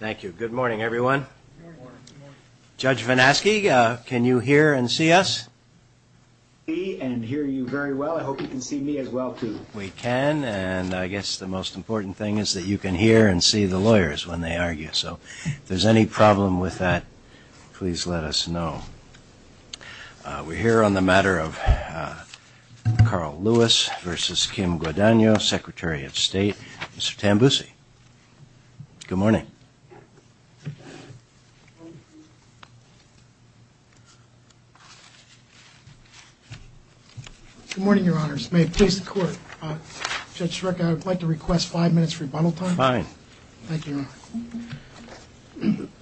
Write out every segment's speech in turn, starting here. Thank you. Good morning, everyone. Judge Vanasky, can you hear and see us? I can see and hear you very well. I hope you can see me as well, too. We can, and I guess the most important thing is that you can hear and see the lawyers when they argue. So, if there's any problem with that, please let us know. We're here on the matter of Carl Lewis v. Kim Guadagno, Secretary of State. Mr. Tambusi, good morning. Good morning, Your Honors. May it please the Court. Judge Sareka, I would like to request five minutes rebuttal time. Fine.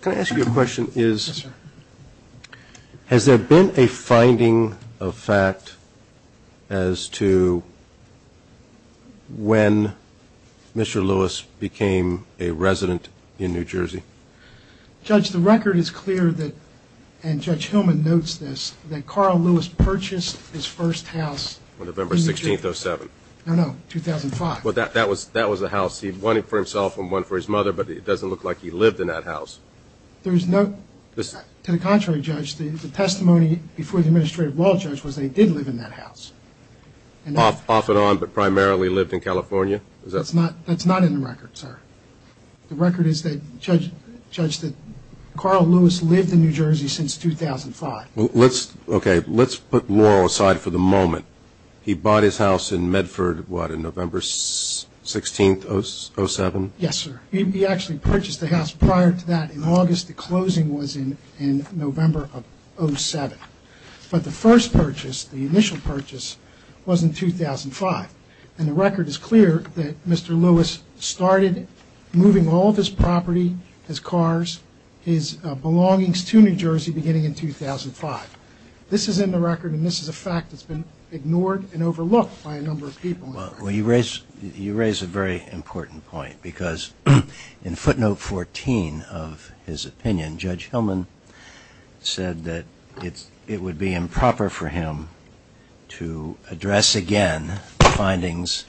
Can I ask you a question? Has there been a finding of fact as to when Mr. Lewis became a resident in New Jersey? Judge, the record is clear that, and Judge Hillman notes this, that Carl Lewis purchased his first house in New Jersey. On November 16th, 07. No, no. 2005. Well, that was the house. He had one for himself and one for his mother, but it doesn't look like he lived in that house. To the contrary, Judge, the testimony before the Administrative Law Judge was that he did live in that house. Off and on, but primarily lived in California? That's not in the record, sir. The record is that Carl Lewis lived in New Jersey since 2005. Okay, let's put Laurel aside for the moment. He bought his house in Medford, what, in November 16th, 07? Yes, sir. He actually purchased the house prior to that in August. The closing was in November of 07. But the first purchase, the initial purchase, was in 2005. And the record is clear that Mr. Lewis started moving all of his property, his cars, his belongings to New Jersey beginning in 2005. This is in the record, and this is a fact that's been ignored and overlooked by a number of people. Well, you raise a very important point, because in footnote 14 of his opinion, Judge Hillman said that it would be improper for him to address again the findings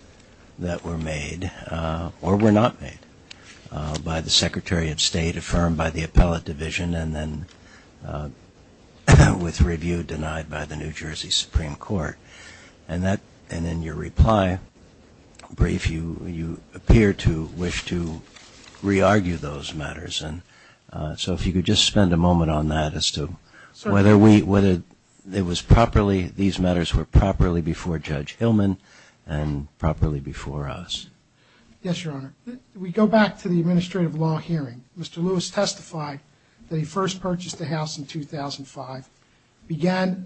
that were made or were not made by the Secretary of State, affirmed by the Appellate Division, and then with review denied by the New Jersey Supreme Court. And in your reply brief, you appear to wish to re-argue those matters. So if you could just spend a moment on that as to whether these matters were properly before Judge Hillman and properly before us. Yes, Your Honor. We go back to the administrative law hearing. Mr. Lewis testified that he first purchased the house in 2005, began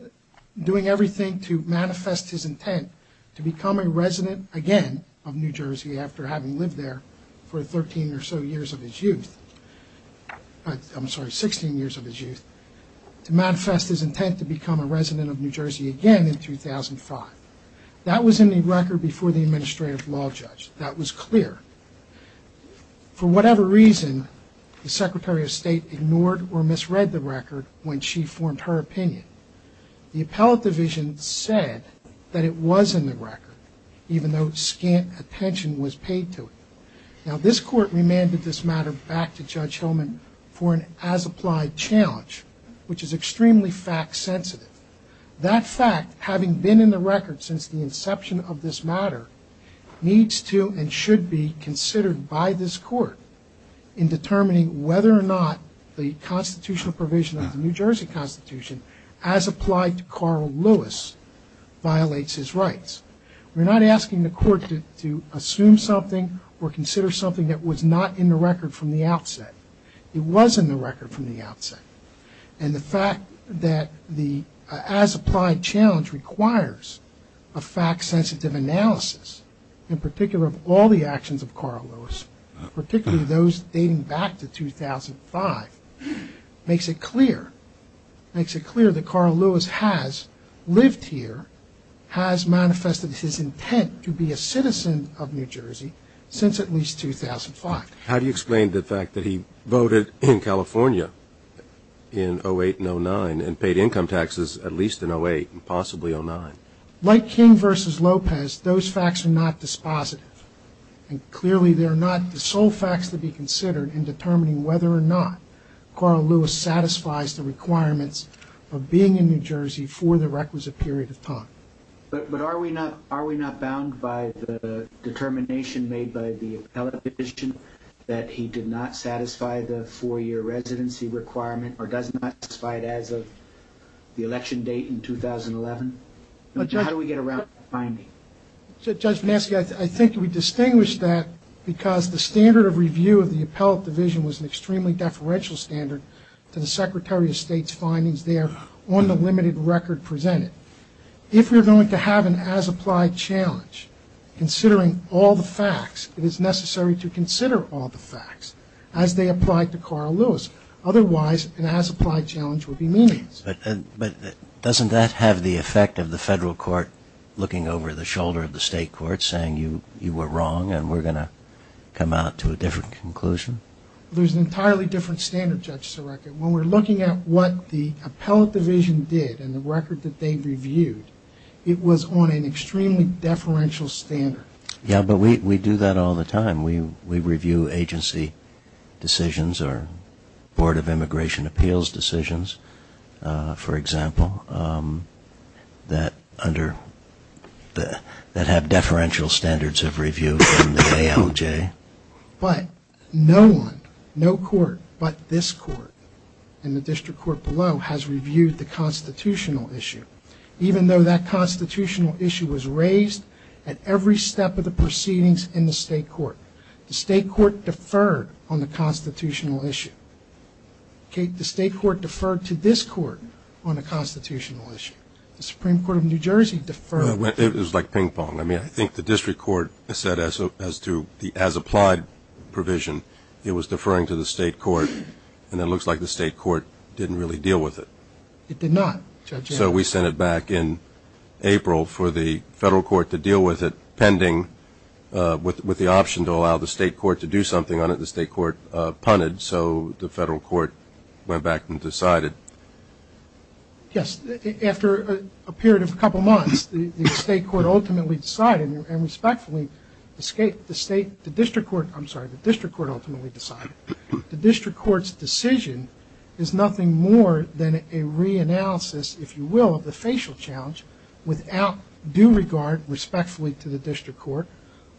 doing everything to manifest his intent to become a resident again of New Jersey after having lived there for 13 or so years of his youth, I'm sorry, 16 years of his youth, to manifest his intent to become a resident of New Jersey again in 2005. That was in the record before the administrative law judge. That was clear. For whatever reason, the Secretary of State ignored or misread the record when she formed her opinion. The Appellate Division said that it was in the record, even though scant attention was paid to it. Now, this Court remanded this matter back to Judge Hillman for an as-applied challenge, which is extremely fact-sensitive. That fact, having been in the record since the inception of this matter, needs to and should be considered by this Court in determining whether or not the constitutional provision of the New Jersey Constitution, as applied to Carl Lewis, violates his rights. We're not asking the Court to assume something or consider something that was not in the record from the outset. It was in the record from the outset. And the fact that the as-applied challenge requires a fact-sensitive analysis, in particular of all the actions of Carl Lewis, particularly those dating back to 2005, makes it clear that Carl Lewis has lived here, has manifested his intent to be a citizen of New Jersey since at least 2005. How do you explain the fact that he voted in California in 08 and 09 and paid income taxes at least in 08 and possibly 09? Like King v. Lopez, those facts are not dispositive, and clearly they are not the sole facts to be considered in determining whether or not Carl Lewis satisfies the requirements of being in New Jersey for the requisite period of time. But are we not bound by the determination made by the appellate division that he did not satisfy the four-year residency requirement or does not satisfy it as of the election date in 2011? How do we get around the finding? Judge Maski, I think we distinguish that because the standard of review of the appellate division was an extremely deferential standard to the Secretary of State's findings there on the limited record presented. If you're going to have an as-applied challenge, considering all the facts, it is necessary to consider all the facts as they apply to Carl Lewis. Otherwise, an as-applied challenge would be meaningless. But doesn't that have the effect of the federal court looking over the shoulder of the state court saying you were wrong and we're going to come out to a different conclusion? There's an entirely different standard, Judge Sareka. When we're looking at what the appellate division did and the record that they reviewed, it was on an extremely deferential standard. Yeah, but we do that all the time. We review agency decisions or Board of Immigration Appeals decisions, for example, that have deferential standards of review from the ALJ. But no one, no court but this court and the district court below has reviewed the constitutional issue. Even though that constitutional issue was raised at every step of the proceedings in the state court, the state court deferred on the constitutional issue. The state court deferred to this court on the constitutional issue. The Supreme Court of New Jersey deferred. It was like ping-pong. I mean, I think the district court said as to the as-applied provision, it was deferring to the state court, and it looks like the state court didn't really deal with it. It did not, Judge Sareka. So we sent it back in April for the federal court to deal with it, pending with the option to allow the state court to do something on it. The state court punted, so the federal court went back and decided. Yes, after a period of a couple months, the state court ultimately decided, and respectfully, the state, the district court, I'm sorry, the district court ultimately decided. The district court's decision is nothing more than a re-analysis, if you will, of the facial challenge without due regard, respectfully to the district court,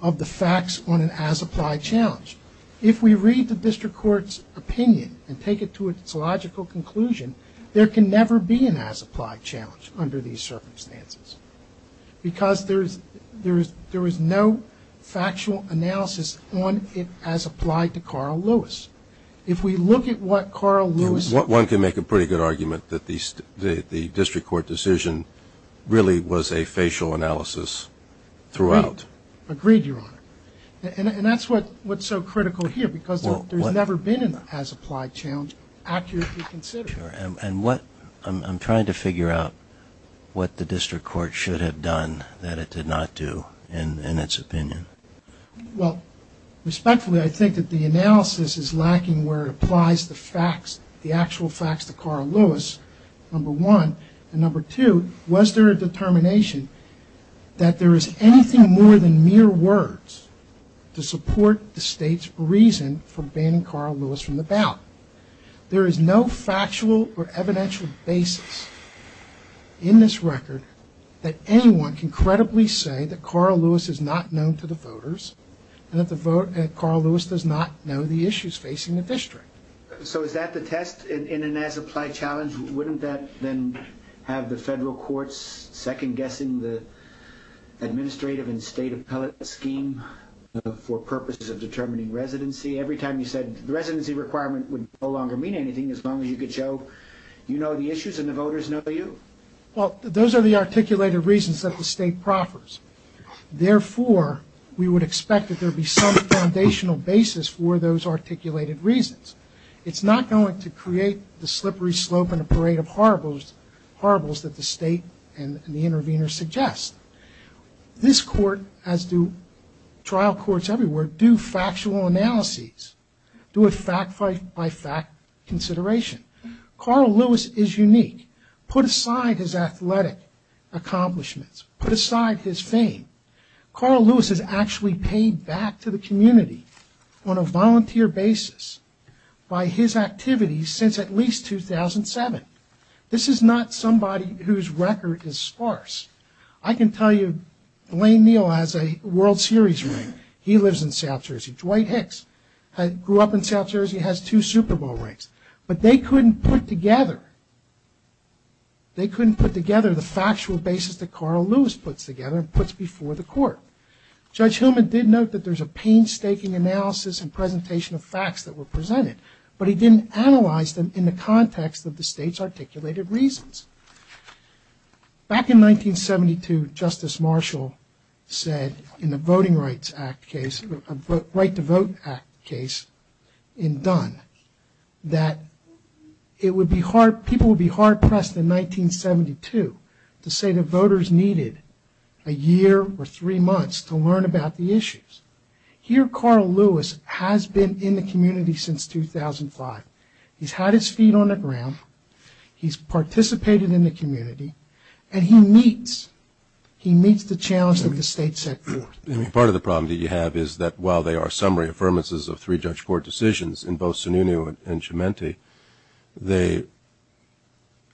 of the facts on an as-applied challenge. If we read the district court's opinion and take it to its logical conclusion, there can never be an as-applied challenge under these circumstances because there is no factual analysis on it as applied to Carl Lewis. If we look at what Carl Lewis... One can make a pretty good argument that the district court decision really was a facial analysis throughout. Agreed, Your Honor. And that's what's so critical here because there's never been an as-applied challenge accurately considered. And what, I'm trying to figure out what the district court should have done that it did not do in its opinion. Well, respectfully, I think that the analysis is lacking where it applies the facts, the actual facts to Carl Lewis, number one. And number two, was there a determination that there is anything more than mere words to support the state's reason for banning Carl Lewis from the ballot? There is no factual or evidential basis in this record that anyone can credibly say that Carl Lewis is not known to the voters and that Carl Lewis does not know the issues facing the district. So is that the test in an as-applied challenge? Wouldn't that then have the federal courts second-guessing the administrative and state appellate scheme for purposes of determining residency? Every time you said the residency requirement would no longer mean anything as long as you could show you know the issues and the voters know you? Well, those are the articulated reasons that the state proffers. Therefore, we would expect that there would be some foundational basis for those articulated reasons. It's not going to create the slippery slope in a parade of horribles that the state and the intervener suggest. This court, as do trial courts everywhere, do factual analyses, do a fact-by-fact consideration. Carl Lewis is unique. Put aside his athletic accomplishments, put aside his fame. Carl Lewis has actually paid back to the community on a volunteer basis by his activities since at least 2007. This is not somebody whose record is sparse. I can tell you Blaine Neal has a World Series ring. He lives in South Jersey. Dwight Hicks grew up in South Jersey and has two Super Bowl rings. But they couldn't put together the factual basis that Carl Lewis puts together and puts before the court. Judge Hillman did note that there's a painstaking analysis and presentation of facts that were presented, but he didn't analyze them in the context of the state's articulated reasons. Back in 1972, Justice Marshall said in the Voting Rights Act case, the Right to Vote Act case in Dunn, that it would be hard, people would be hard-pressed in 1972 to say the voters needed a year or three months to learn about the issues. Here Carl Lewis has been in the community since 2005. He's had his feet on the ground. He's participated in the community and he meets, he meets the challenge that the state set forth. Part of the problem that you have is that while there are summary affirmances of three judge court decisions in both Sununu and Cimenti, they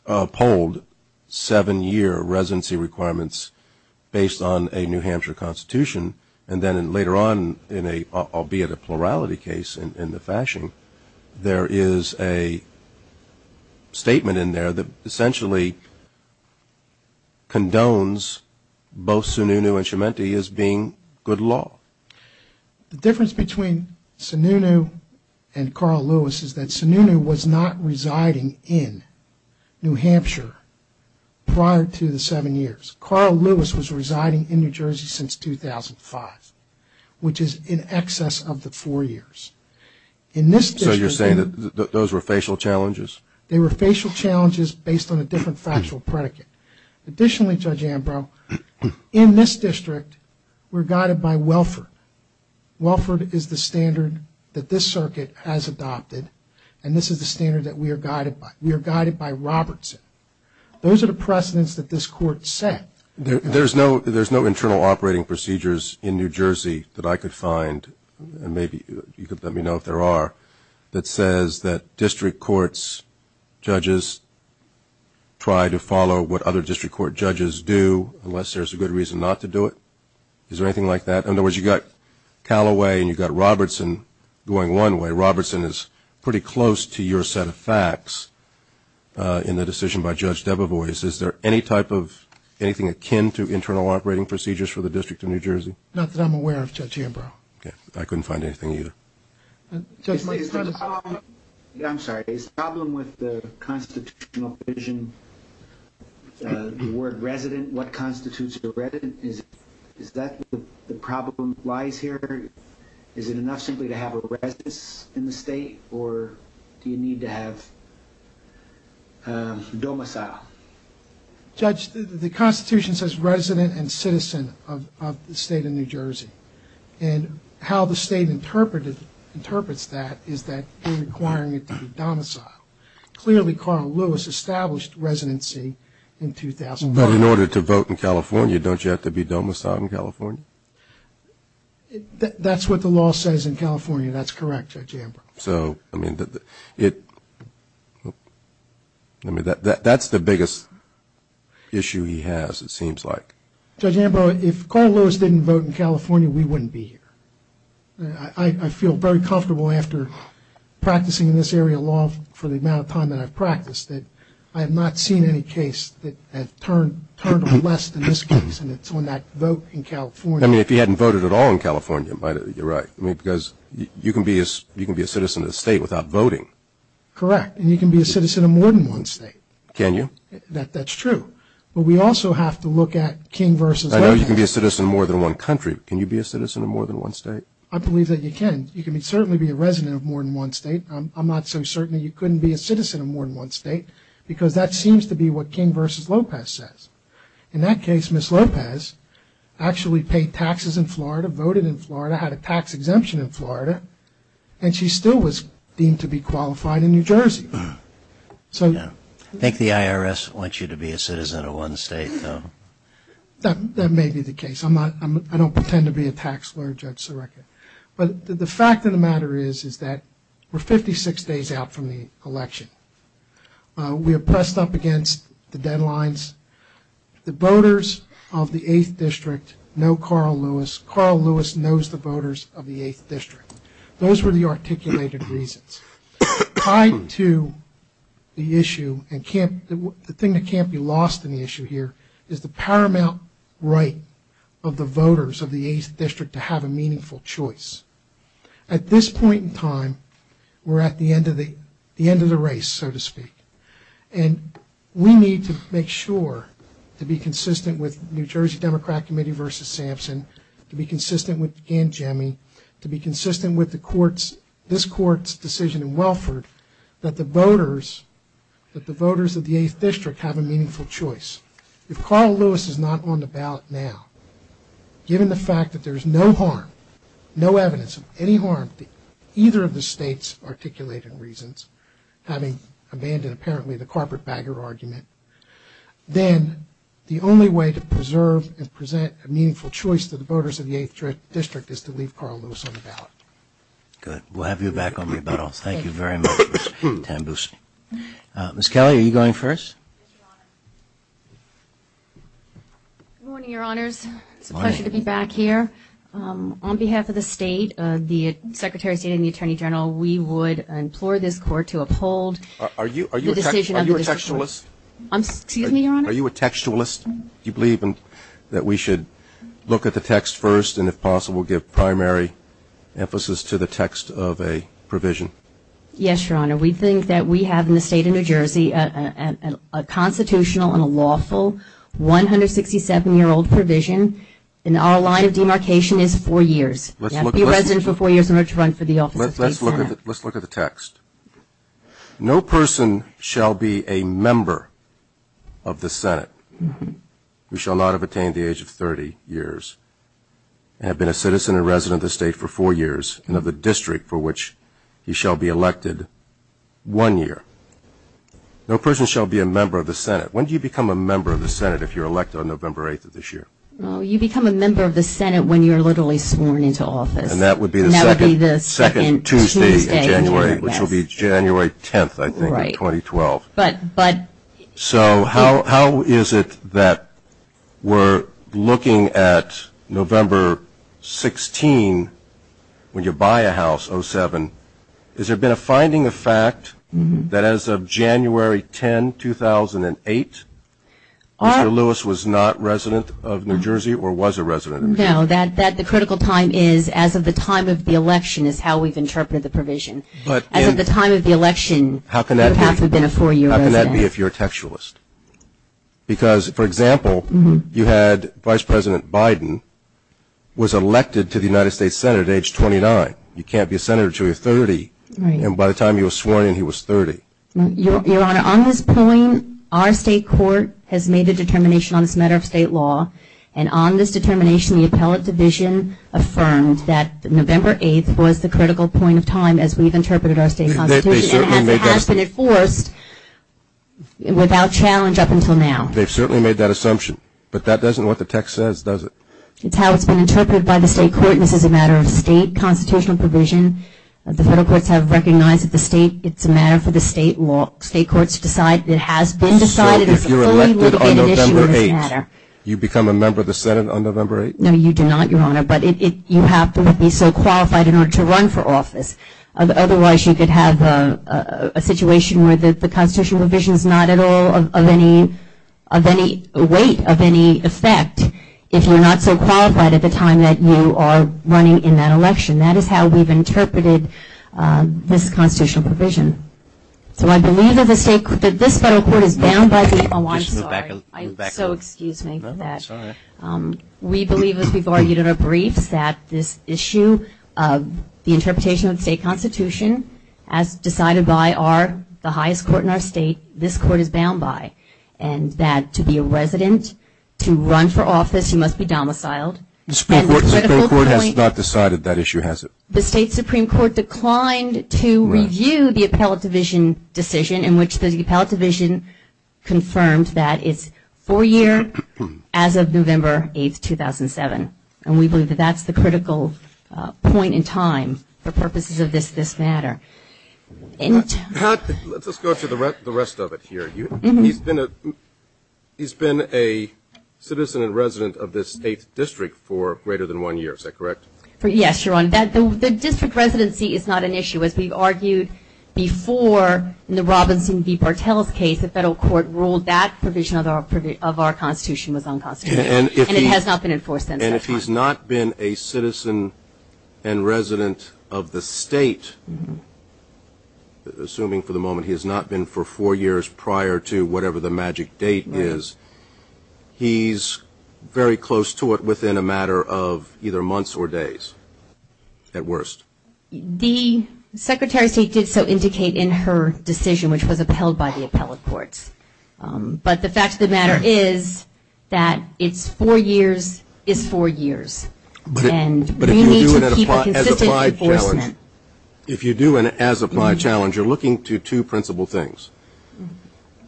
polled seven year residency requirements based on a New Hampshire Constitution and then later on in a, albeit a plurality case in the fashion, there is a statement in there that essentially condones both Sununu and Cimenti as being good law. The difference between Sununu and Carl Lewis is that Sununu was not residing in New Hampshire prior to the seven years. Carl Lewis was residing in New Jersey since 2005, which is in excess of the four years. In this district... So you're saying that those were facial challenges? They were facial challenges based on a different factual predicate. Additionally, Judge Ambrose, in this district we're guided by Welford. Welford is the standard that this circuit has adopted and this is the standard that we are guided by. We are guided by Robertson. Those are the precedents that this court set. There's no internal operating procedures in New Jersey that I could find, and maybe you could let me know if there are, that says that district courts, judges try to follow what other district court judges do unless there's a good reason not to do it. Is there anything like that? In other words, you've got Calloway and you've got Robertson going one way. Robertson is pretty close to your set of facts in the decision by Judge Debevoise. Is there any type of, anything akin to internal operating procedures for the District of New Jersey? Not that I'm aware of, Judge Ambrose. Okay. I couldn't find anything either. Judge Lewis... Is the problem... I'm sorry. Is the problem with the constitutional provision, the word resident, what constitutes a resident? Is that where the problem lies here? Is it enough simply to have a residence in the state, or do you need to have domicile? Judge, the Constitution says resident and citizen of the state of New Jersey, and how the state interprets that is that you're requiring it to be domicile. Clearly Carl Lewis established residency in 2001. But in order to vote in California, don't you have to be domiciled in California? That's what the law says in California. That's correct, Judge Ambrose. So, I mean, that's the biggest issue he has, it seems like. Judge Ambrose, if Carl Lewis didn't vote in California, we wouldn't be here. I feel very comfortable after practicing in this area of law for the amount of time that I've practiced that I have not seen any case that has turned to less than this case, and it's on that vote in California. I mean, if he hadn't voted at all in California, you're right, because you can be a citizen of the state without voting. Correct. And you can be a citizen of more than one state. Can you? That's true. But we also have to look at King v. Lopez. I know you can be a citizen of more than one country, but can you be a citizen of more than one state? I believe that you can. You can certainly be a resident of more than one state. I'm not so certain that you couldn't be a citizen of more than one state, because that seems to be what King v. Lopez says. In that case, Ms. Lopez actually paid taxes in Florida, voted in Florida, had a tax exemption in Florida, and she still was deemed to be qualified in New Jersey. So – I think the IRS wants you to be a citizen of one state, though. That may be the case. I'm not – I don't pretend to be a tax lawyer, Judge Sareka. But the fact of the matter is, is that we're 56 days out from the election. We are pressed up against the deadlines. The voters of the 8th District know Carl Lewis. Carl Lewis knows the voters of the 8th District. Those were the articulated reasons. Tied to the issue and can't – the thing that can't be lost in the issue here is the paramount right of the voters of the 8th District to have a meaningful choice. At this point in time, we're at the end of the race, so to speak, and we need to make sure to be consistent with New Jersey Democrat Committee versus Sampson, to be consistent with Gangemi, to be consistent with the court's – this court's decision in Welford, that the voters – that the voters of the 8th District have a meaningful choice. If Carl Lewis is not on the ballot now, given the fact that there's no harm, no evidence of any harm to either of the state's articulated reasons, having abandoned apparently the corporate bagger argument, then the only way to preserve and present a meaningful choice to the voters of the 8th District is to leave Carl Lewis on the ballot. Good. We'll have you back on rebuttal. Thank you very much, Mr. Tambusi. Ms. Kelly, are you going first? Yes, Your Honor. Good morning, Your Honors. It's a pleasure to be back here. On behalf of the state, the Secretary of State and the Attorney General, we would implore this Court to uphold the decision of the District Court. Are you a textualist? Excuse me, Your Honor? Are you a textualist? Do you believe that we should look at the text first and, if possible, give primary emphasis to the text of a provision? Yes, Your Honor. We think that we have in the state of New Jersey a constitutional and a lawful 167-year-old provision, and our line of demarcation is four years. You have to be a resident for four years in order to run for the office of State Senate. Let's look at the text. No person shall be a member of the Senate who shall not have attained the age of 30 years and have been a citizen and resident of the state for four years and of the district for which he shall be elected one year. No person shall be a member of the Senate. When do you become a member of the Senate if you're elected on November 8th of this year? Well, you become a member of the Senate when you're literally sworn into office. And that would be the second Tuesday in January, which will be January 10th, I think, of 2012. So how is it that we're looking at November 16, when you buy a house, 07, has there been a finding of fact that as of January 10, 2008, Mr. Lewis was not resident of New Jersey or was a resident? No, that the critical time is as of the time of the election is how we've interpreted the provision. But at the time of the election, how can that be if you're a textualist? Because for example, you had Vice President Biden was elected to the United States Senate at age 29. You can't be a senator until you're 30. And by the time he was sworn in, he was 30. Your Honor, on this point, our state court has made a determination on this matter of state law. And on this determination, the appellate division affirmed that November 8th was the critical point of time as we've interpreted our state constitution and it has been enforced without challenge up until now. They've certainly made that assumption, but that doesn't what the text says, does it? It's how it's been interpreted by the state court, and this is a matter of state constitutional provision. The federal courts have recognized that the state, it's a matter for the state law. State courts decide that it has been decided as a fully litigated issue on this matter. So if you're elected on November 8th, you become a member of the Senate on November 8th? No, you do not, Your Honor. But you have to be so qualified in order to run for office. Otherwise, you could have a situation where the constitutional provision is not at all of any weight, of any effect, if you're not so qualified at the time that you are running in that election. That is how we've interpreted this constitutional provision. So I believe that this federal court is bound by the, oh, I'm sorry. So excuse me for that. That's all right. We believe, as we've argued in our briefs, that this issue of the interpretation of the state constitution as decided by our, the highest court in our state, this court is bound by, and that to be a resident, to run for office, you must be domiciled. The state court has not decided that issue, has it? The state supreme court declined to review the appellate division decision in which the of November 8th, 2007, and we believe that that's the critical point in time for purposes of this matter. Pat, let's just go through the rest of it here. He's been a citizen and resident of this 8th district for greater than one year, is that correct? Yes, Your Honor. The district residency is not an issue, as we've argued before in the Robinson v. Bartels case. As the federal court ruled, that provision of our constitution was unconstitutional, and it has not been enforced since that time. And if he's not been a citizen and resident of the state, assuming for the moment he has not been for four years prior to whatever the magic date is, he's very close to it within a matter of either months or days, at worst. The Secretary of State did so indicate in her decision, which was upheld by the appellate courts. But the fact of the matter is that it's four years is four years. And we need to keep a consistent enforcement. If you do an as-applied challenge, you're looking to two principal things.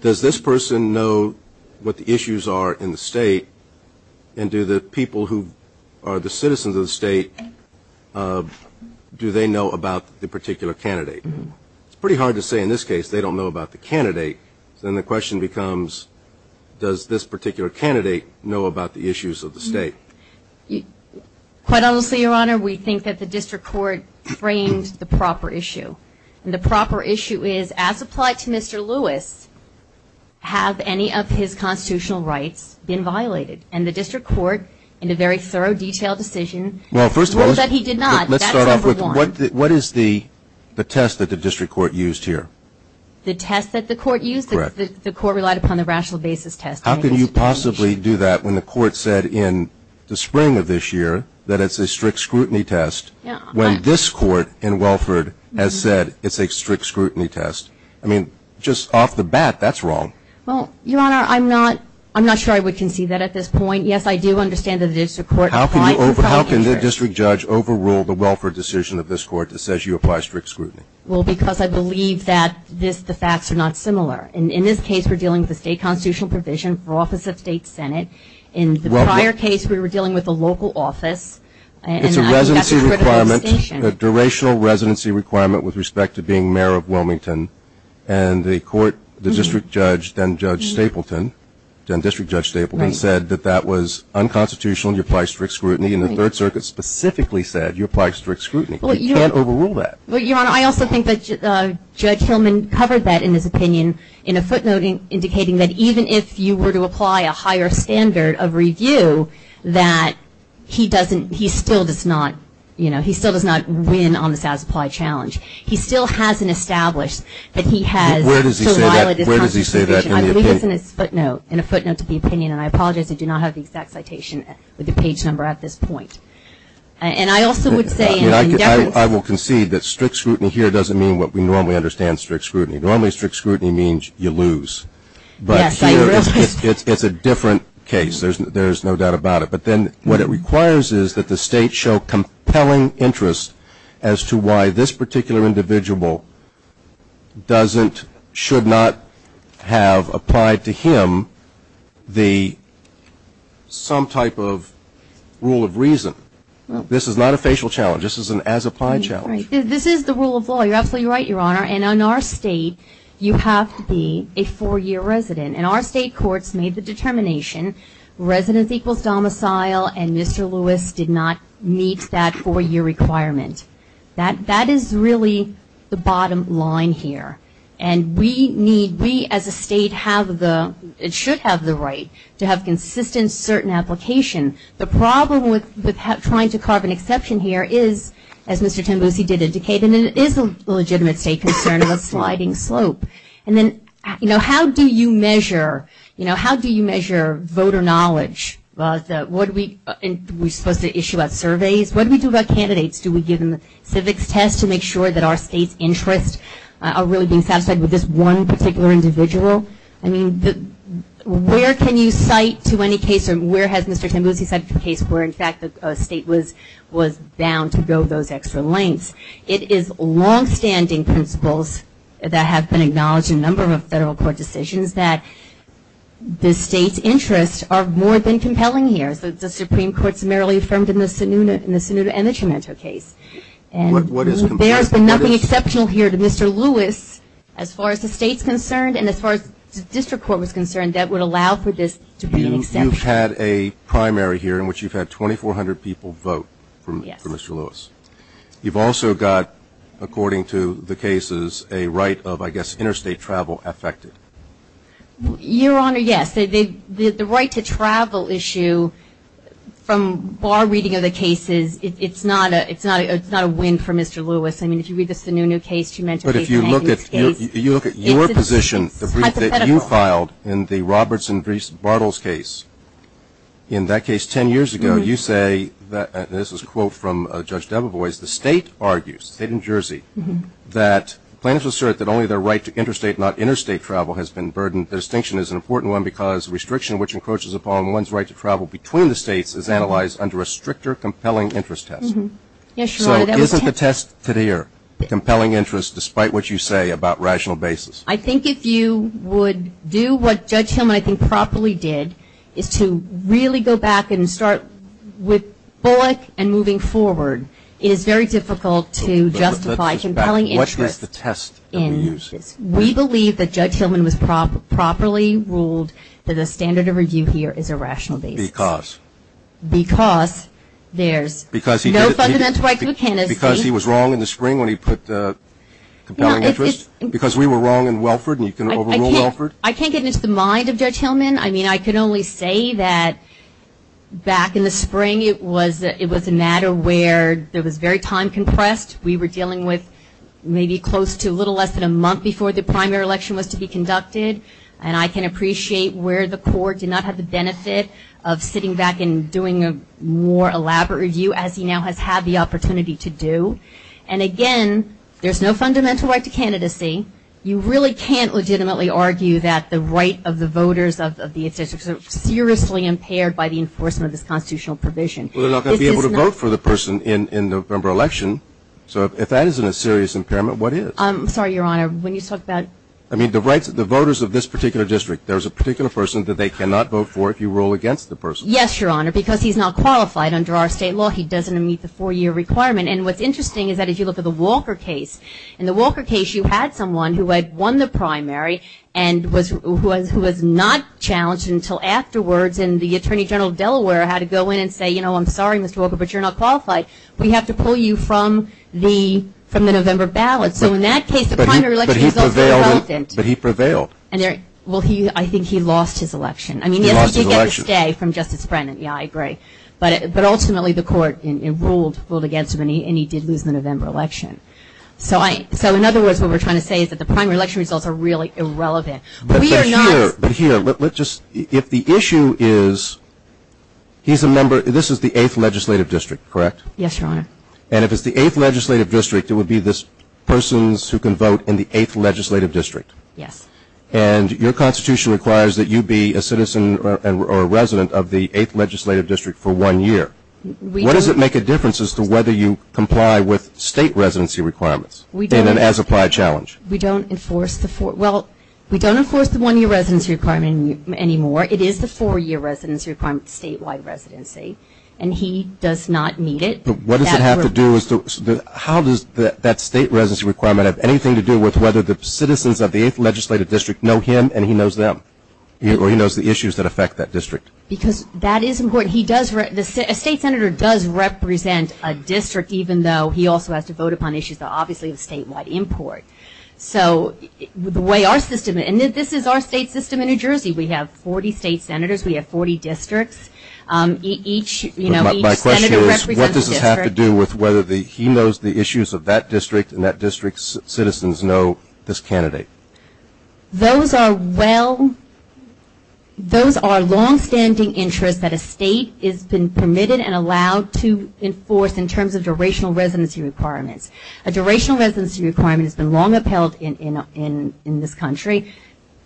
Does this person know what the issues are in the state, and do the people who are the do they know about the particular candidate? It's pretty hard to say in this case they don't know about the candidate, so then the question becomes, does this particular candidate know about the issues of the state? Quite honestly, Your Honor, we think that the district court framed the proper issue. The proper issue is, as applied to Mr. Lewis, have any of his constitutional rights been violated? And the district court, in a very thorough, detailed decision, ruled that he did not. Let's start off with, what is the test that the district court used here? The test that the court used? Correct. The court relied upon the rational basis test. How can you possibly do that when the court said in the spring of this year that it's a strict scrutiny test, when this court in Welford has said it's a strict scrutiny test? I mean, just off the bat, that's wrong. Well, Your Honor, I'm not sure I would concede that at this point. Yes, I do understand that the district court applied for five years. How can the district judge overrule the Welford decision of this court that says you apply strict scrutiny? Well, because I believe that the facts are not similar. In this case, we're dealing with the state constitutional provision for office of state senate. In the prior case, we were dealing with the local office. It's a residency requirement, a durational residency requirement with respect to being mayor of Wilmington. And the court, the district judge, then Judge Stapleton, then District Judge Stapleton, then said that that was unconstitutional and you apply strict scrutiny. And the Third Circuit specifically said you apply strict scrutiny. You can't overrule that. Well, Your Honor, I also think that Judge Hillman covered that in his opinion in a footnote indicating that even if you were to apply a higher standard of review, that he doesn't he still does not, you know, he still does not win on the status applied challenge. He still hasn't established that he has so violated his constitutional provision. Where does he say that in the opinion? I think it's in his footnote, in a footnote to the opinion, and I apologize, I do not have the exact citation with the page number at this point. And I also would say in deference. I will concede that strict scrutiny here doesn't mean what we normally understand as strict scrutiny. Normally strict scrutiny means you lose, but here it's a different case. There's no doubt about it. But then what it requires is that the state show compelling interest as to why this particular individual doesn't, should not have applied to him the some type of rule of reason. This is not a facial challenge. This is an as-applied challenge. This is the rule of law. You're absolutely right, Your Honor. And in our state, you have to be a four-year resident, and our state courts made the determination residence equals domicile, and Mr. Lewis did not meet that four-year requirement. That is really the bottom line here. And we need, we as a state have the, it should have the right to have consistent certain application. The problem with trying to carve an exception here is, as Mr. Tembusi did indicate, and it is a legitimate state concern of a sliding slope. And then, you know, how do you measure, you know, how do you measure voter knowledge? What do we, are we supposed to issue out surveys? What do we do about candidates? Do we give them the civics test to make sure that our state's interests are really being satisfied with this one particular individual? I mean, where can you cite to any case, or where has Mr. Tembusi cited a case where in fact the state was bound to go those extra lengths? It is long-standing principles that have been acknowledged in a number of federal court decisions that the state's interests are more than compelling here. As the Supreme Court summarily affirmed in the Sonuna and the Tremento case. And there has been nothing exceptional here to Mr. Lewis as far as the state's concerned and as far as the district court was concerned that would allow for this to be an exception. You've had a primary here in which you've had 2,400 people vote for Mr. Lewis. You've also got, according to the cases, a right of, I guess, interstate travel affected. Your Honor, yes. The right to travel issue, from our reading of the cases, it's not a win for Mr. Lewis. I mean, if you read the Sonuna case, Tremento case, and Anthony's case, it's hypothetical. But if you look at your position, the brief that you filed in the Roberts and Bartles case, in that case 10 years ago, you say, and this is a quote from Judge Debevoise, the state argues, the state of New Jersey, that plaintiffs assert that only their right to interstate, not interstate travel, has been burdened. And the distinction is an important one because restriction which encroaches upon one's right to travel between the states is analyzed under a stricter compelling interest test. Yes, Your Honor, that was a test. So isn't the test today a compelling interest, despite what you say about rational basis? I think if you would do what Judge Hillman, I think, properly did, is to really go back and start with Bullock and moving forward, it is very difficult to justify compelling interest. What is the test that we use? We believe that Judge Hillman was properly ruled that the standard of review here is a rational basis. Because? Because there's no fundamental right to interstate. Because he was wrong in the spring when he put compelling interest? Because we were wrong in Welford and you can overrule Welford? I can't get into the mind of Judge Hillman. I mean, I can only say that back in the spring, it was a matter where there was very time compressed. We were dealing with maybe close to a little less than a month before the primary election was to be conducted. And I can appreciate where the court did not have the benefit of sitting back and doing a more elaborate review, as he now has had the opportunity to do. And again, there's no fundamental right to candidacy. You really can't legitimately argue that the right of the voters of the interstate is seriously impaired by the enforcement of this constitutional provision. Well, they're not going to be able to vote for the person in the November election. So if that isn't a serious impairment, what is? I'm sorry, Your Honor. When you talk about... I mean, the rights of the voters of this particular district. There's a particular person that they cannot vote for if you rule against the person. Yes, Your Honor. Because he's not qualified under our state law. He doesn't meet the four-year requirement. And what's interesting is that if you look at the Walker case, in the Walker case you had someone who had won the primary and who was not challenged until afterwards. And the Attorney General of Delaware had to go in and say, you know, I'm sorry, Mr. Walker, but you're not qualified. We have to pull you from the November ballot. So in that case, the primary election results were helpful. But he prevailed. Well, I think he lost his election. He lost his election. I mean, yes, he did get the stay from Justice Brennan, yeah, I agree. But ultimately, the court ruled against him and he did lose the November election. So in other words, what we're trying to say is that the primary election results are really irrelevant. We are not... But here, let's just, if the issue is, he's a member, this is the 8th Legislative District, correct? Yes, Your Honor. And if it's the 8th Legislative District, it would be this persons who can vote in the 8th Legislative District. Yes. And your Constitution requires that you be a citizen or a resident of the 8th Legislative District for one year. What does it make a difference as to whether you comply with state residency requirements in an as-applied challenge? We don't enforce the four, well, we don't enforce the one-year residency requirement anymore. It is the four-year residency requirement, statewide residency. And he does not need it. But what does it have to do with, how does that state residency requirement have anything to do with whether the citizens of the 8th Legislative District know him and he knows them? Or he knows the issues that affect that district? Because that is important. He does, a state senator does represent a district, even though he also has to vote on issues that are obviously of statewide import. So the way our system, and this is our state system in New Jersey. We have 40 state senators. We have 40 districts. Each, you know, each senator represents a district. But my question is, what does this have to do with whether he knows the issues of that district and that district's citizens know this candidate? Those are well, those are long-standing interests that a state has been permitted and allowed to enforce in terms of durational residency requirements. A durational residency requirement has been long upheld in this country.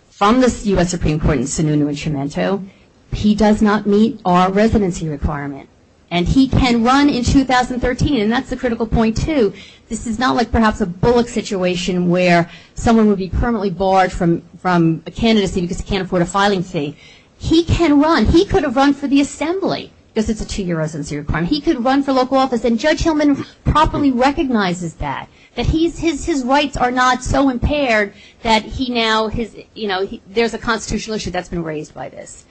From the U.S. Supreme Court in Sununu and Tremento, he does not meet our residency requirement. And he can run in 2013, and that's the critical point, too. This is not like, perhaps, a Bullock situation where someone would be permanently barred from a candidacy because he can't afford a filing fee. He can run. He could have run for the Assembly because it's a two-year residency requirement. He could run for local office, and Judge Hillman properly recognizes that, that his rights are not so impaired that he now, you know, there's a constitutional issue that's been raised by this.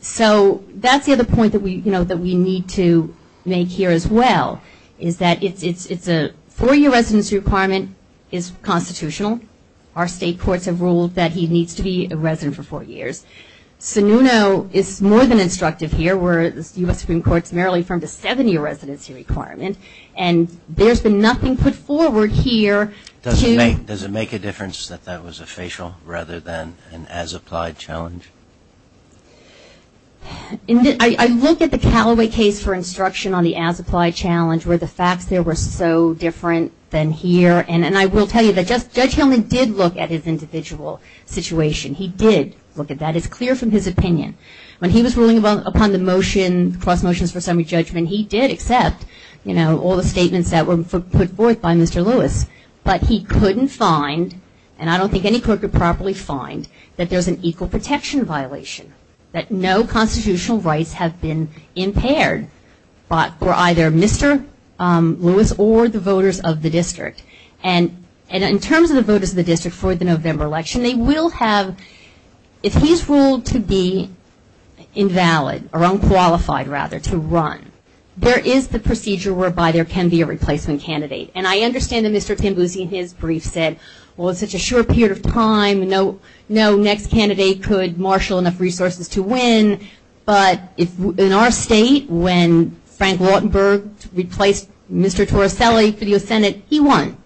So, that's the other point that we, you know, that we need to make here as well, is that it's a four-year residency requirement is constitutional. Our state courts have ruled that he needs to be a resident for four years. Sununu is more than instructive here, where the U.S. Supreme Court's merrily affirmed a seven-year residency requirement. And there's been nothing put forward here to... Does it make a difference that that was a facial rather than an as-applied challenge? I look at the Callaway case for instruction on the as-applied challenge, where the facts there were so different than here. And I will tell you that Judge Hillman did look at his individual situation. He did look at that. It's clear from his opinion. When he was ruling upon the motion, cross motions for summary judgment, he did accept, you know, all the statements that were put forth by Mr. Lewis. But he couldn't find, and I don't think any court could properly find, that there's an equal protection violation, that no constitutional rights have been impaired for either Mr. Lewis or the voters of the district. And in terms of the voters of the district for the November election, they will have... If he's ruled to be invalid, or unqualified rather, to run, there is the procedure whereby there can be a replacement candidate. And I understand that Mr. Timbusi in his brief said, well, it's such a short period of time, no next candidate could marshal enough resources to win, but in our state, when Frank Lautenberg replaced Mr. Torricelli for the U.S. Senate, he won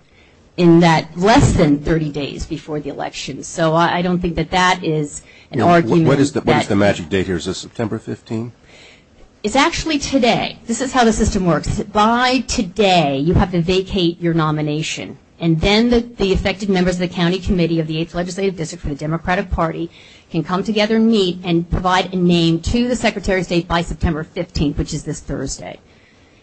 in that less than 30 days before the election. So I don't think that that is an argument that... What is the magic date here? Is this September 15th? It's actually today. This is how the system works. By today, you have to vacate your nomination. And then the affected members of the County Committee of the 8th Legislative District for the Democratic Party can come together and meet and provide a name to the Secretary of State by September 15th, which is this Thursday.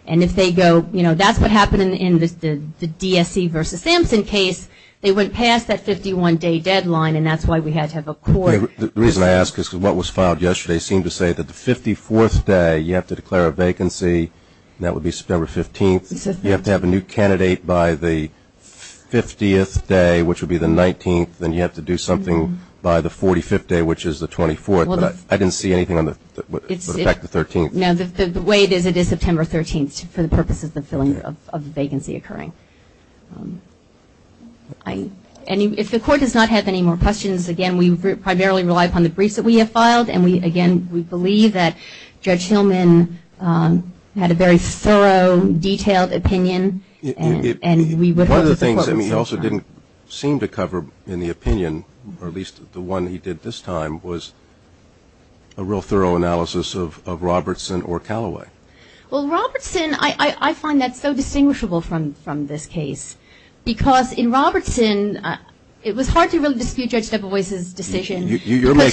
And if they go, you know, that's what happened in the DSC versus Sampson case, they went past that 51-day deadline, and that's why we had to have a court... The reason I ask is because what was filed yesterday seemed to say that the 54th day, you have to declare a vacancy, and that would be September 15th, you have to have a new candidate by the 50th day, which would be the 19th, then you have to do something by the 45th day, which is the 24th. I didn't see anything on the back of the 13th. No, the way it is, it is September 13th for the purposes of the vacancy occurring. If the Court does not have any more questions, again, we primarily rely upon the briefs that we have filed, and again, we believe that Judge Hillman had a very thorough, detailed opinion, and we would hope that the Court would... One of the things that he also didn't seem to cover in the opinion, or at least the one he did this time, was a real thorough analysis of Robertson or Callaway. Well, Robertson, I find that so distinguishable from this case, because in Robertson, it was hard to really dispute Judge Deboise's decision, because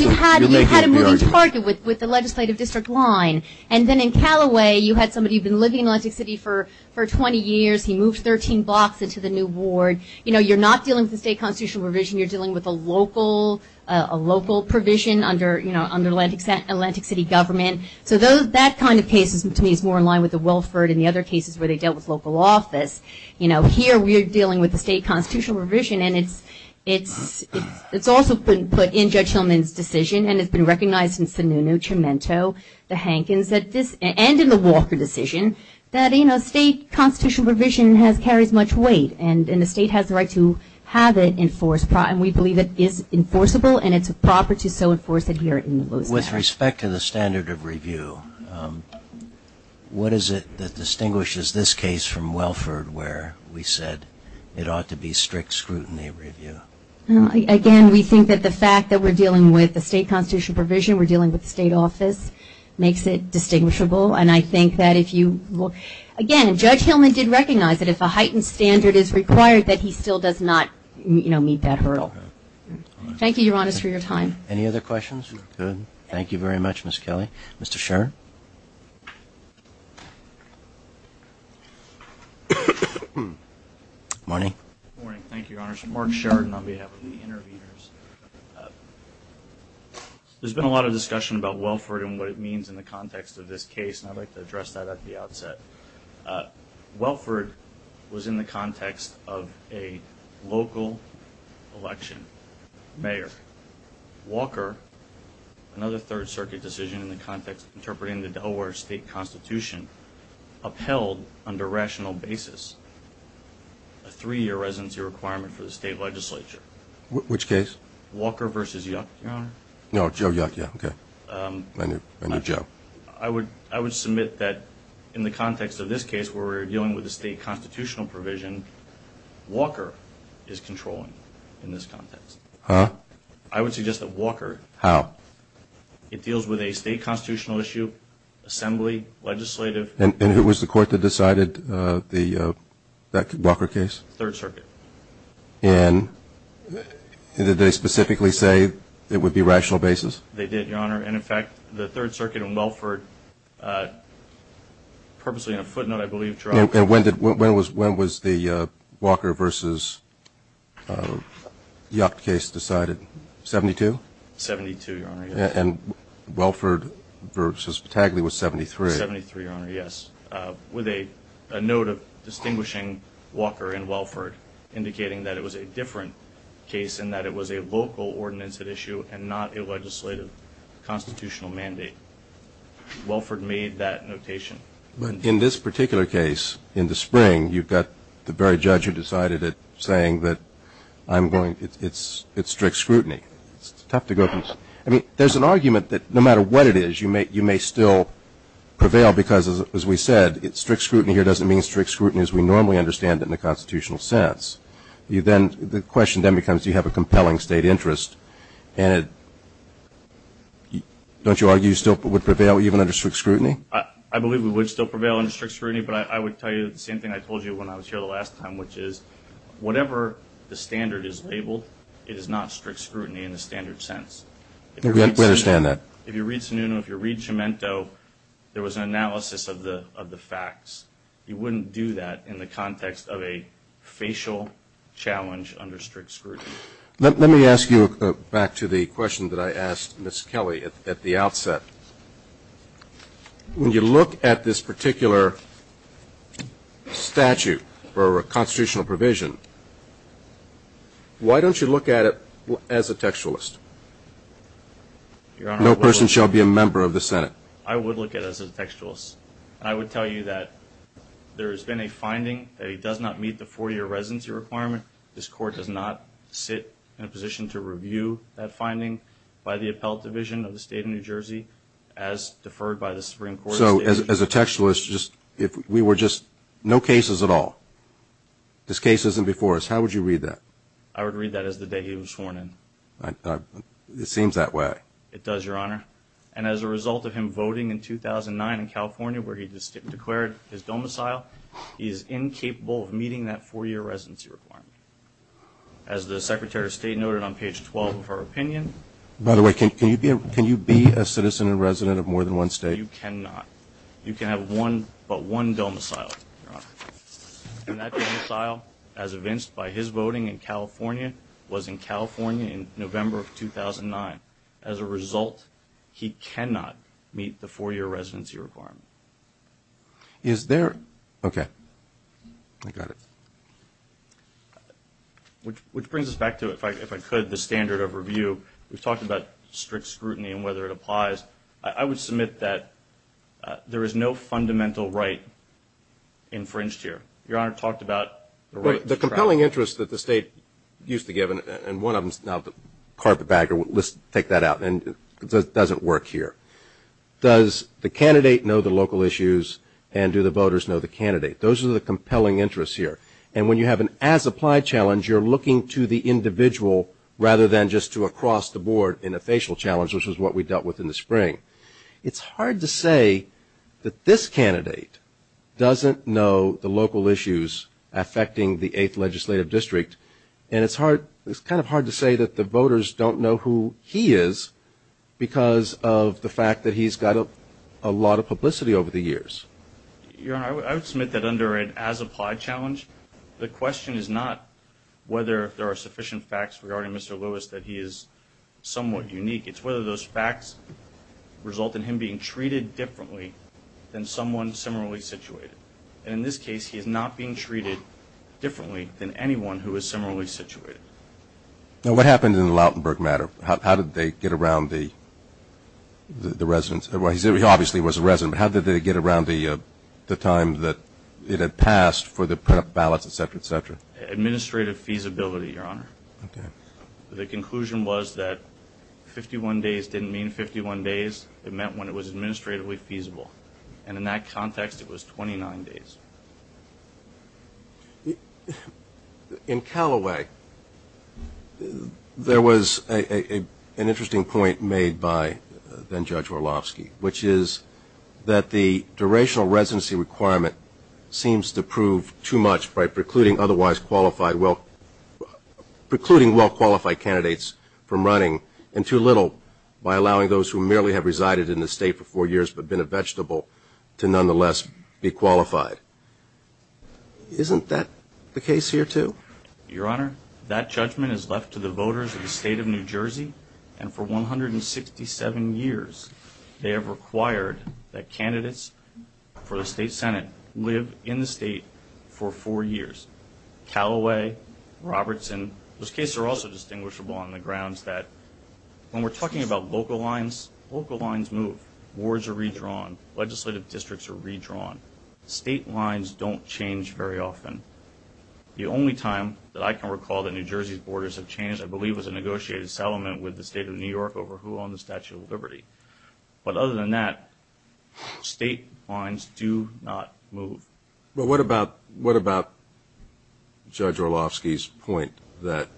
you had a moving target with the legislative district line, and then in Callaway, you had somebody who'd been living in Atlantic City for 20 years, he moved 13 blocks into the new ward. You're not dealing with the state constitutional provision, you're dealing with a local provision under Atlantic City government, so that kind of case, to me, is more in line with the Welford and the other cases where they dealt with local office. Here, we're dealing with the state constitutional provision, and it's also been put in Judge Hillman's decision, and it's been recognized in Sununu, Chimento, the Hankins, and in the Walker decision, that state constitutional provision carries much weight, and the state has the right to have it enforced, and we believe it is enforceable, and it's proper to so enforce it here in Louisiana. With respect to the standard of review, what is it that distinguishes this case from Welford, where we said it ought to be strict scrutiny review? Again, we think that the fact that we're dealing with the state constitutional provision, we're dealing with the state office, makes it distinguishable. And I think that if you look, again, Judge Hillman did recognize that if a heightened standard is required, that he still does not meet that hurdle. Thank you, Your Honors, for your time. Any other questions? Good. Thank you very much, Ms. Kelly. Mr. Sheridan? Morning. Morning. Thank you, Your Honors. Mark Sheridan on behalf of the interveners. There's been a lot of discussion about Welford and what it means in the context of this case, and I'd like to address that at the outset. Welford was in the context of a local election. Mayor Walker, another Third Circuit decision in the context of interpreting the Delaware state constitution, upheld under rational basis a three-year residency requirement for the state legislature. Which case? Walker versus Yuck, Your Honor. No, Joe Yuck, yeah, okay. I knew Joe. I would submit that in the context of this case, where we're dealing with the state constitutional provision, Walker is controlling in this context. Huh? I would suggest that Walker... How? It deals with a state constitutional issue, assembly, legislative... And who was the court that decided that Walker case? Third Circuit. And did they specifically say it would be rational basis? They did, Your Honor. And in fact, the Third Circuit in Welford, purposely in a footnote, I believe, dropped... And when was the Walker versus Yuck case decided? 72? 72, Your Honor, yes. And Welford versus Tagli was 73. 73, Your Honor, yes. With a note of distinguishing Walker and Welford, indicating that it was a different case, and that it was a local ordinance at issue, and not a legislative constitutional mandate. Welford made that notation. But in this particular case, in the spring, you've got the very judge who decided it, saying that it's strict scrutiny. It's tough to go from... I mean, there's an argument that no matter what it is, you may still prevail because, as we said, strict scrutiny here doesn't mean strict scrutiny as we normally understand it in the constitutional sense. The question then becomes, do you have a compelling state interest? And don't you argue you still would prevail even under strict scrutiny? I believe we would still prevail under strict scrutiny. But I would tell you the same thing I told you when I was here the last time, which is whatever the standard is labeled, it is not strict scrutiny in the standard sense. We understand that. If you read Sununu, if you read Gemento, there was an analysis of the facts. You wouldn't do that in the context of a facial challenge under strict scrutiny. Let me ask you back to the question that I asked Ms. Kelly at the outset. When you look at this particular statute or constitutional provision, why don't you look at it as a textualist? No person shall be a member of the Senate. I would look at it as a textualist. I would tell you that there has been a finding that he does not meet the four-year residency requirement. This court does not sit in a position to review that finding by the appellate division of the state of New Jersey as deferred by the Supreme Court. So as a textualist, if we were just no cases at all, this case isn't before us, how would you read that? I would read that as the day he was sworn in. It seems that way. It does, Your Honor. And as a result of him voting in 2009 in California, where he just declared his domicile, he is incapable of meeting that four-year residency requirement. As the Secretary of State noted on page 12 of her opinion... By the way, can you be a citizen and resident of more than one state? You cannot. You can have one, but one domicile, Your Honor. And that domicile, as evinced by his voting in California, was in California in November of 2009. As a result, he cannot meet the four-year residency requirement. Is there... Okay, I got it. Which brings us back to, if I could, the standard of review. We've talked about strict scrutiny and whether it applies. I would submit that there is no fundamental right infringed here. Your Honor talked about the right... The compelling interest that the state used to give, and one of them is now the carpet bagger. Let's take that out. And it doesn't work here. Does the candidate know the local issues, and do the voters know the candidate? Those are the compelling interests here. And when you have an as-applied challenge, you're looking to the individual rather than just to across the board in a facial challenge, which is what we dealt with in the spring. It's hard to say that this candidate doesn't know the local issues affecting the 8th Legislative District, and it's kind of hard to say that the voters don't know who he is because of the fact that he's got a lot of publicity over the years. Your Honor, I would submit that under an as-applied challenge, the question is not whether there are sufficient facts regarding Mr. Lewis that he is somewhat unique. It's whether those facts result in him being treated differently than someone similarly situated. And in this case, he is not being treated differently than anyone who is similarly situated. Now, what happened in the Lautenberg matter? How did they get around the residents? He obviously was a resident. How did they get around the time that it had passed for the ballots, et cetera, et cetera? Administrative feasibility, Your Honor. The conclusion was that 51 days didn't mean 51 days. It meant when it was administratively feasible. And in that context, it was 29 days. In Callaway, there was an interesting point made by then-Judge Orlovsky, which is that the durational residency requirement seems to prove too much by precluding otherwise qualified – well, precluding well-qualified candidates from running, and too little by allowing those who merely have resided in the state for four years but been a vegetable to nonetheless be qualified. Isn't that the case here, too? Your Honor, that judgment is left to the voters of the state of New Jersey. And for 167 years, they have required that candidates for the state senate live in the state for four years. Callaway, Robertson, those cases are also distinguishable on the grounds that when we're talking about local lines, local lines move. Boards are redrawn. Legislative districts are redrawn. State lines don't change very often. The only time that I can recall that New Jersey's borders have changed, I believe, was a negotiated settlement with the state of New York over who owned the Statue of Liberty. But other than that, state lines do not move. But what about – what about Judge Orlovsky's point that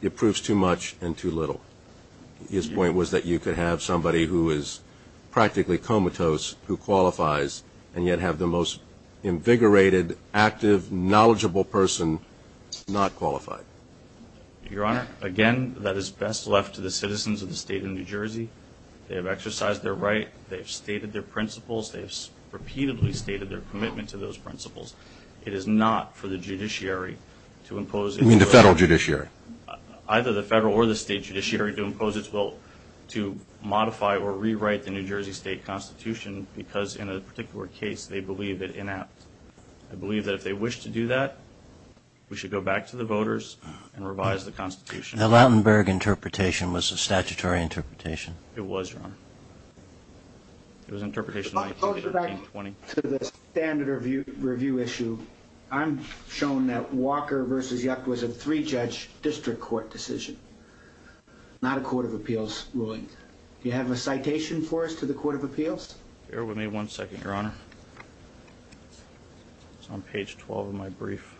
it proves too much and too little? His point was that you could have somebody who is practically comatose who qualifies and yet have the most invigorated, active, knowledgeable person not qualified. Your Honor, again, that is best left to the citizens of the state of New Jersey. They have exercised their right. They have stated their principles. They have repeatedly stated their commitment to those principles. It is not for the judiciary to impose – You mean the federal judiciary? Either the federal or the state judiciary to impose its will to modify or rewrite the New Jersey state constitution because, in a particular case, they believe it inapt. I believe that if they wish to do that, we should go back to the voters and revise the constitution. The Lautenberg interpretation was a statutory interpretation. It was, Your Honor. It was an interpretation of 1913-20. I'll go back to the standard review issue. I'm shown that Walker v. Yuck was a three-judge district court decision, not a court of appeals ruling. Do you have a citation for us to the court of appeals? Bear with me one second, Your Honor. It's on page 12 of my brief.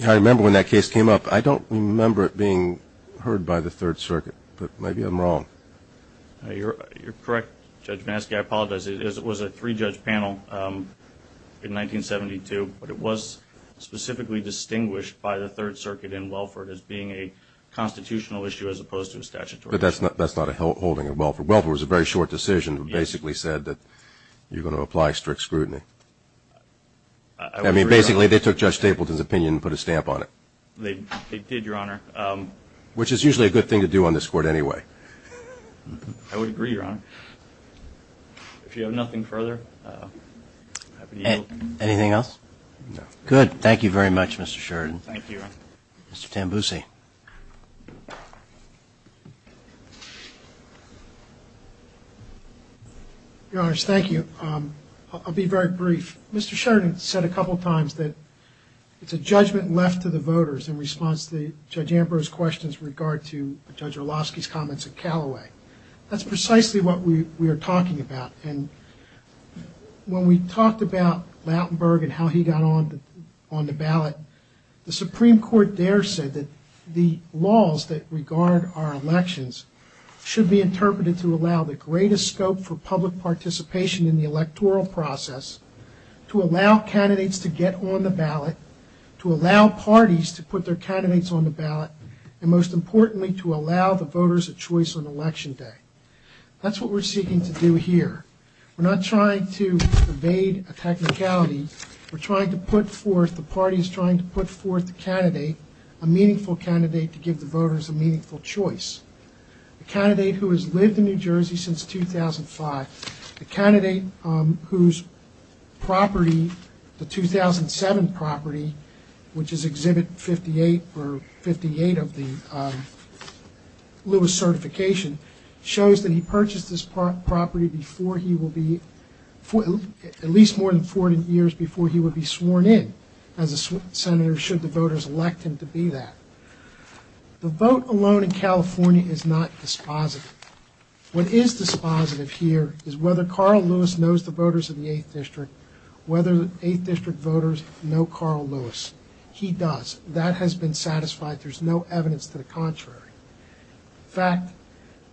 I remember when that case came up. I don't remember it being heard by the Third Circuit, but maybe I'm wrong. You're correct, Judge Maski. I apologize. It was a three-judge panel in 1972, but it was specifically distinguished by the Third Circuit in Welford as being a constitutional issue as opposed to a statutory issue. But that's not a holding in Welford. Welford was a very short decision that basically said that you're going to apply strict scrutiny. I mean, basically, they took Judge Stapleton's opinion and put a stamp on it. They did, Your Honor. Which is usually a good thing to do on this court anyway. I would agree, Your Honor. If you have nothing further, I'd be happy to yield. Anything else? No. Good. Thank you very much, Mr. Sheridan. Thank you, Your Honor. Mr. Tambusi. Your Honors, thank you. I'll be very brief. Mr. Sheridan said a couple times that it's a judgment left to the voters in response to Judge Ambrose's questions with regard to Judge Orlowski's comments at Callaway. That's precisely what we are talking about. And when we talked about Lautenberg and how he got on the ballot, the Supreme Court there said that the laws that regard our elections should be interpreted to allow the greatest scope for public participation in the electoral process, to allow candidates to get on the ballot, to allow parties to put their candidates on the ballot, and most importantly, to allow the voters a choice on election day. That's what we're seeking to do here. We're not trying to evade a technicality. We're trying to put forth, the party is trying to put forth the candidate, a meaningful candidate to give the voters a meaningful choice. The candidate who has lived in New Jersey since 2005, the candidate whose property, the 2007 property, which is Exhibit 58 or 58 of the Lewis certification, shows that he purchased this property before he will be, at least more than 40 years before he would be sworn in as a senator should the voters elect him to be that. The vote alone in California is not dispositive. What is dispositive here is whether Carl Lewis knows the voters of the 8th District, whether the 8th District voters know Carl Lewis. He does. That has been satisfied. There's no evidence to the contrary. In fact,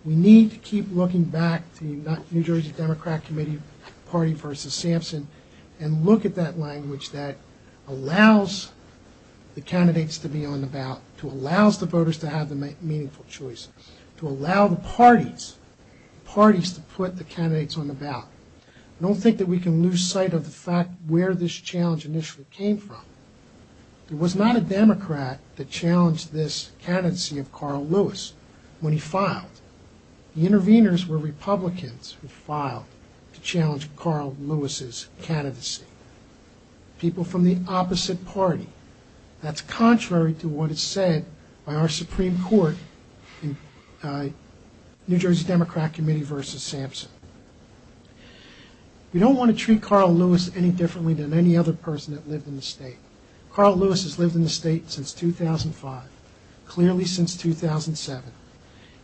we need to keep looking back to the New Jersey Democrat Committee party versus Sampson and look at that language that allows the candidates to be on the ballot, to allow the voters to have the meaningful choice, to allow the parties, parties to put the candidates on the ballot. I don't think that we can lose sight of the fact where this challenge initially came from. There was not a Democrat that challenged this candidacy of Carl Lewis when he filed. The interveners were Republicans who filed to challenge Carl Lewis's candidacy, people from the opposite party. That's contrary to what is said by our Supreme Court, New Jersey Democrat Committee versus Sampson. We don't want to treat Carl Lewis any differently than any other person that lived in the state. Carl Lewis has lived in the state since 2005, clearly since 2007.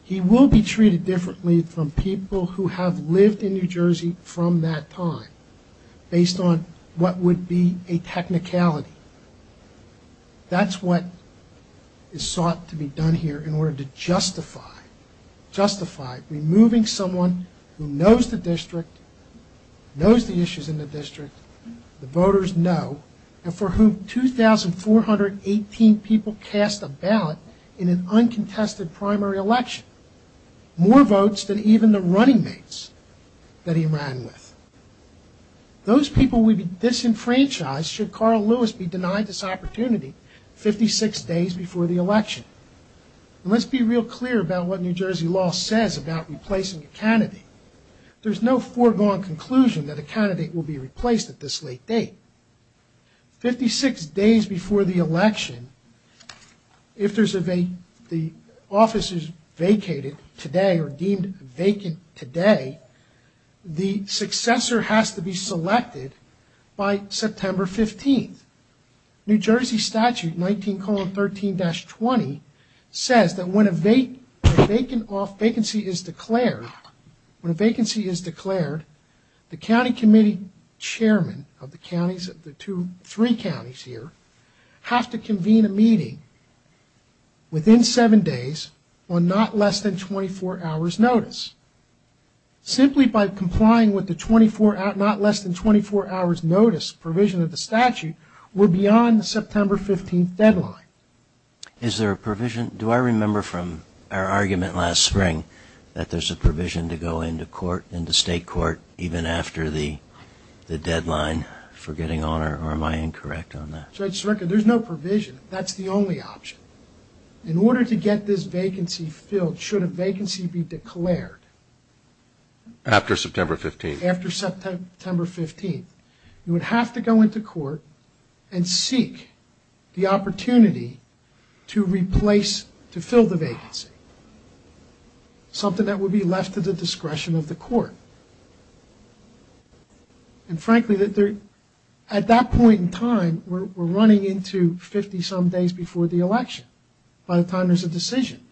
He will be treated differently from people who have lived in New Jersey from that time based on what would be a technicality. That's what is sought to be done here in order to justify, justify removing someone who knows the district, knows the issues in the district, the voters know, and for whom 2,418 people cast a ballot in an uncontested primary election. More votes than even the running mates that he ran with. Those people would be disenfranchised should Carl Lewis be denied this opportunity 56 days before the election. Let's be real clear about what New Jersey law says about replacing a candidate. There's no foregone conclusion that a candidate will be replaced at this late date. 56 days before the election, if the office is vacated today or deemed vacant today, the successor has to be selected by September 15th. New Jersey statute 19,13-20 says that when a vacancy is declared, when a vacancy is declared, the county committee chairman of the three counties here have to convene a meeting within seven days on not less than 24 hours notice. Simply by complying with the not less than 24 hours notice provision of the statute, we're beyond the September 15th deadline. Is there a provision? Do I remember from our argument last spring that there's a provision to go into court, into state court, even after the deadline for getting on, or am I incorrect on that? So I just reckon there's no provision. That's the only option. In order to get this vacancy filled, should a vacancy be declared. After September 15th. After September 15th, you would have to go into court and seek the opportunity to replace, to fill the vacancy. Something that would be left to the discretion of the court. And frankly, at that point in time, we're running into 50-some days before the election, by the time there's a decision.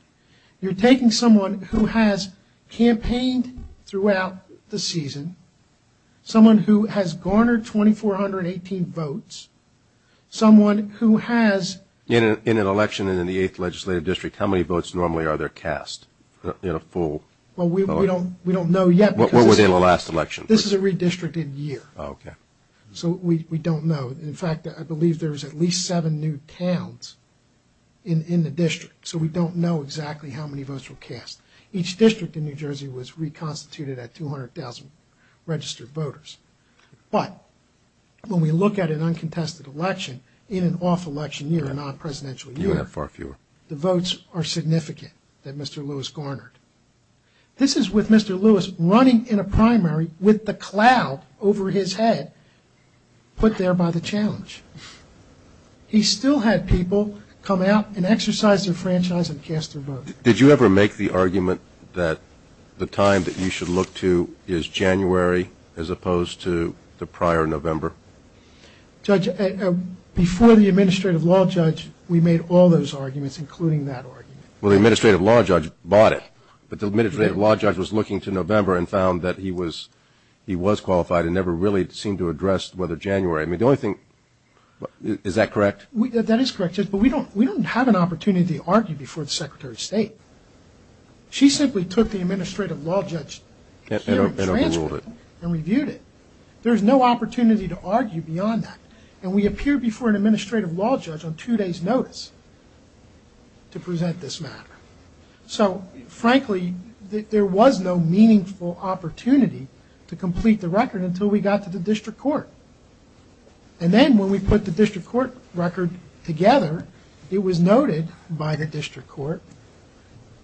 You're taking someone who has campaigned throughout the season, someone who has garnered 2,418 votes, someone who has... In an election in the 8th Legislative District, how many votes normally are there cast in a full? Well, we don't know yet. What was in the last election? This is a redistricted year. So we don't know. In fact, I believe there's at least seven new towns in the district. So we don't know exactly how many votes were cast. Each district in New Jersey was reconstituted at 200,000 registered voters. But when we look at an uncontested election in an off-election year, a non-presidential year, the votes are significant that Mr. Lewis garnered. This is with Mr. Lewis running in a primary with the cloud over his head, put there by the challenge. He still had people come out and exercise their franchise and cast their vote. Did you ever make the argument that the time that you should look to is January as opposed to the prior November? Judge, before the Administrative Law Judge, we made all those arguments, including that argument. Well, the Administrative Law Judge bought it. But the Administrative Law Judge was looking to November and found that he was qualified and never really seemed to address whether January. I mean, the only thing, is that correct? That is correct, Judge. But we don't have an opportunity to argue before the Secretary of State. She simply took the Administrative Law Judge hearing transcript and reviewed it. There's no opportunity to argue beyond that. And we appeared before an Administrative Law Judge on two days' notice to present this matter. So, frankly, there was no meaningful opportunity to complete the record until we got to the District Court. And then when we put the District Court record together, it was noted by the District Court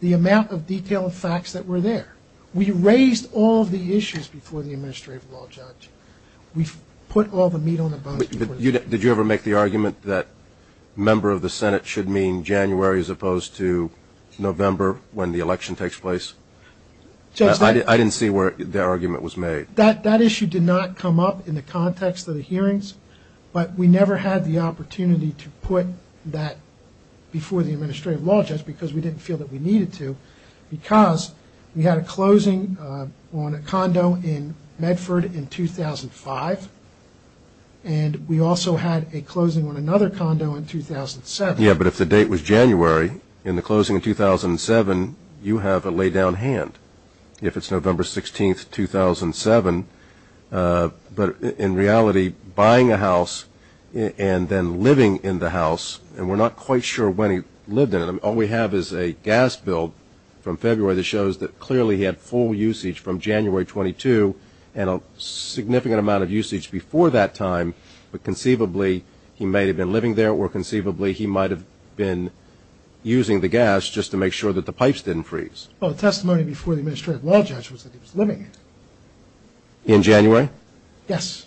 the amount of detailed facts that were there. We raised all of the issues before the Administrative Law Judge. We put all the meat on the bone. Did you ever make the argument that a member of the Senate should mean January as opposed to November when the election takes place? I didn't see where the argument was made. That issue did not come up in the context of the hearings. But we never had the opportunity to put that before the Administrative Law Judge because we didn't feel that we needed to, because we had a closing on a condo in Medford in 2005. And we also had a closing on another condo in 2007. But if the date was January in the closing in 2007, you have a laydown hand if it's November 16, 2007. But in reality, buying a house and then living in the house, and we're not quite sure when he lived in it. All we have is a gas bill from February that shows that clearly he had full usage from January 22 and a significant amount of usage before that time. But conceivably, he may have been living there or conceivably, he might have been using the gas just to make sure that the pipes didn't freeze. Well, the testimony before the Administrative Law Judge was that he was living it. In January? Yes.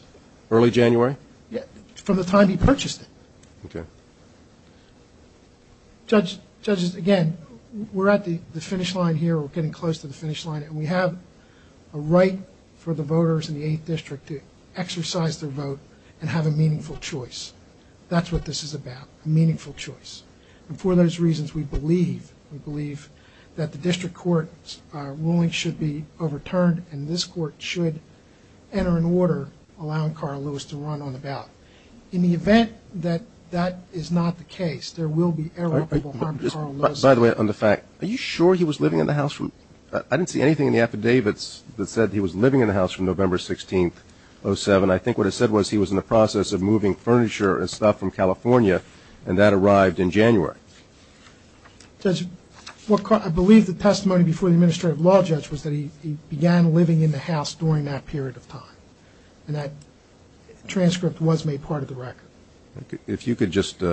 Early January? Yeah, from the time he purchased it. Judge, again, we're at the finish line here. We're getting close to the finish line. And we have a right for the voters in the 8th District to exercise their vote and have a meaningful choice. That's what this is about, a meaningful choice. And for those reasons, we believe that the District Court ruling should be overturned and this Court should enter an order allowing Carl Lewis to run on the ballot. In the event that that is not the case, there will be irreparable harm to Carl Lewis. By the way, on the fact, are you sure he was living in the house from... I didn't see anything in the affidavits that said he was living in the house from November 16, 2007. I think what it said was he was in the process of moving furniture and stuff from California and that arrived in January. Judge, I believe the testimony before the Administrative Law Judge was that he began living in the house during that period of time. And that transcript was made part of the record. If you could just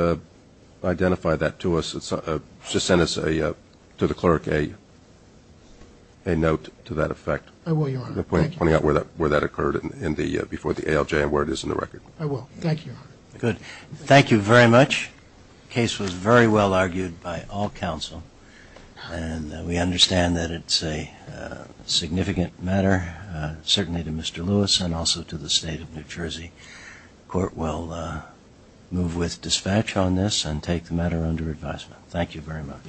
identify that to us, just send us to the clerk a note to that effect. I will, Your Honor. Pointing out where that occurred before the ALJ and where it is in the record. I will. Thank you, Your Honor. Good. Thank you very much. Case was very well argued by all counsel and we understand that it's a significant matter, certainly to Mr. Lewis and also to the State of New Jersey. The Court will move with dispatch on this and take the matter under advisement. Thank you very much.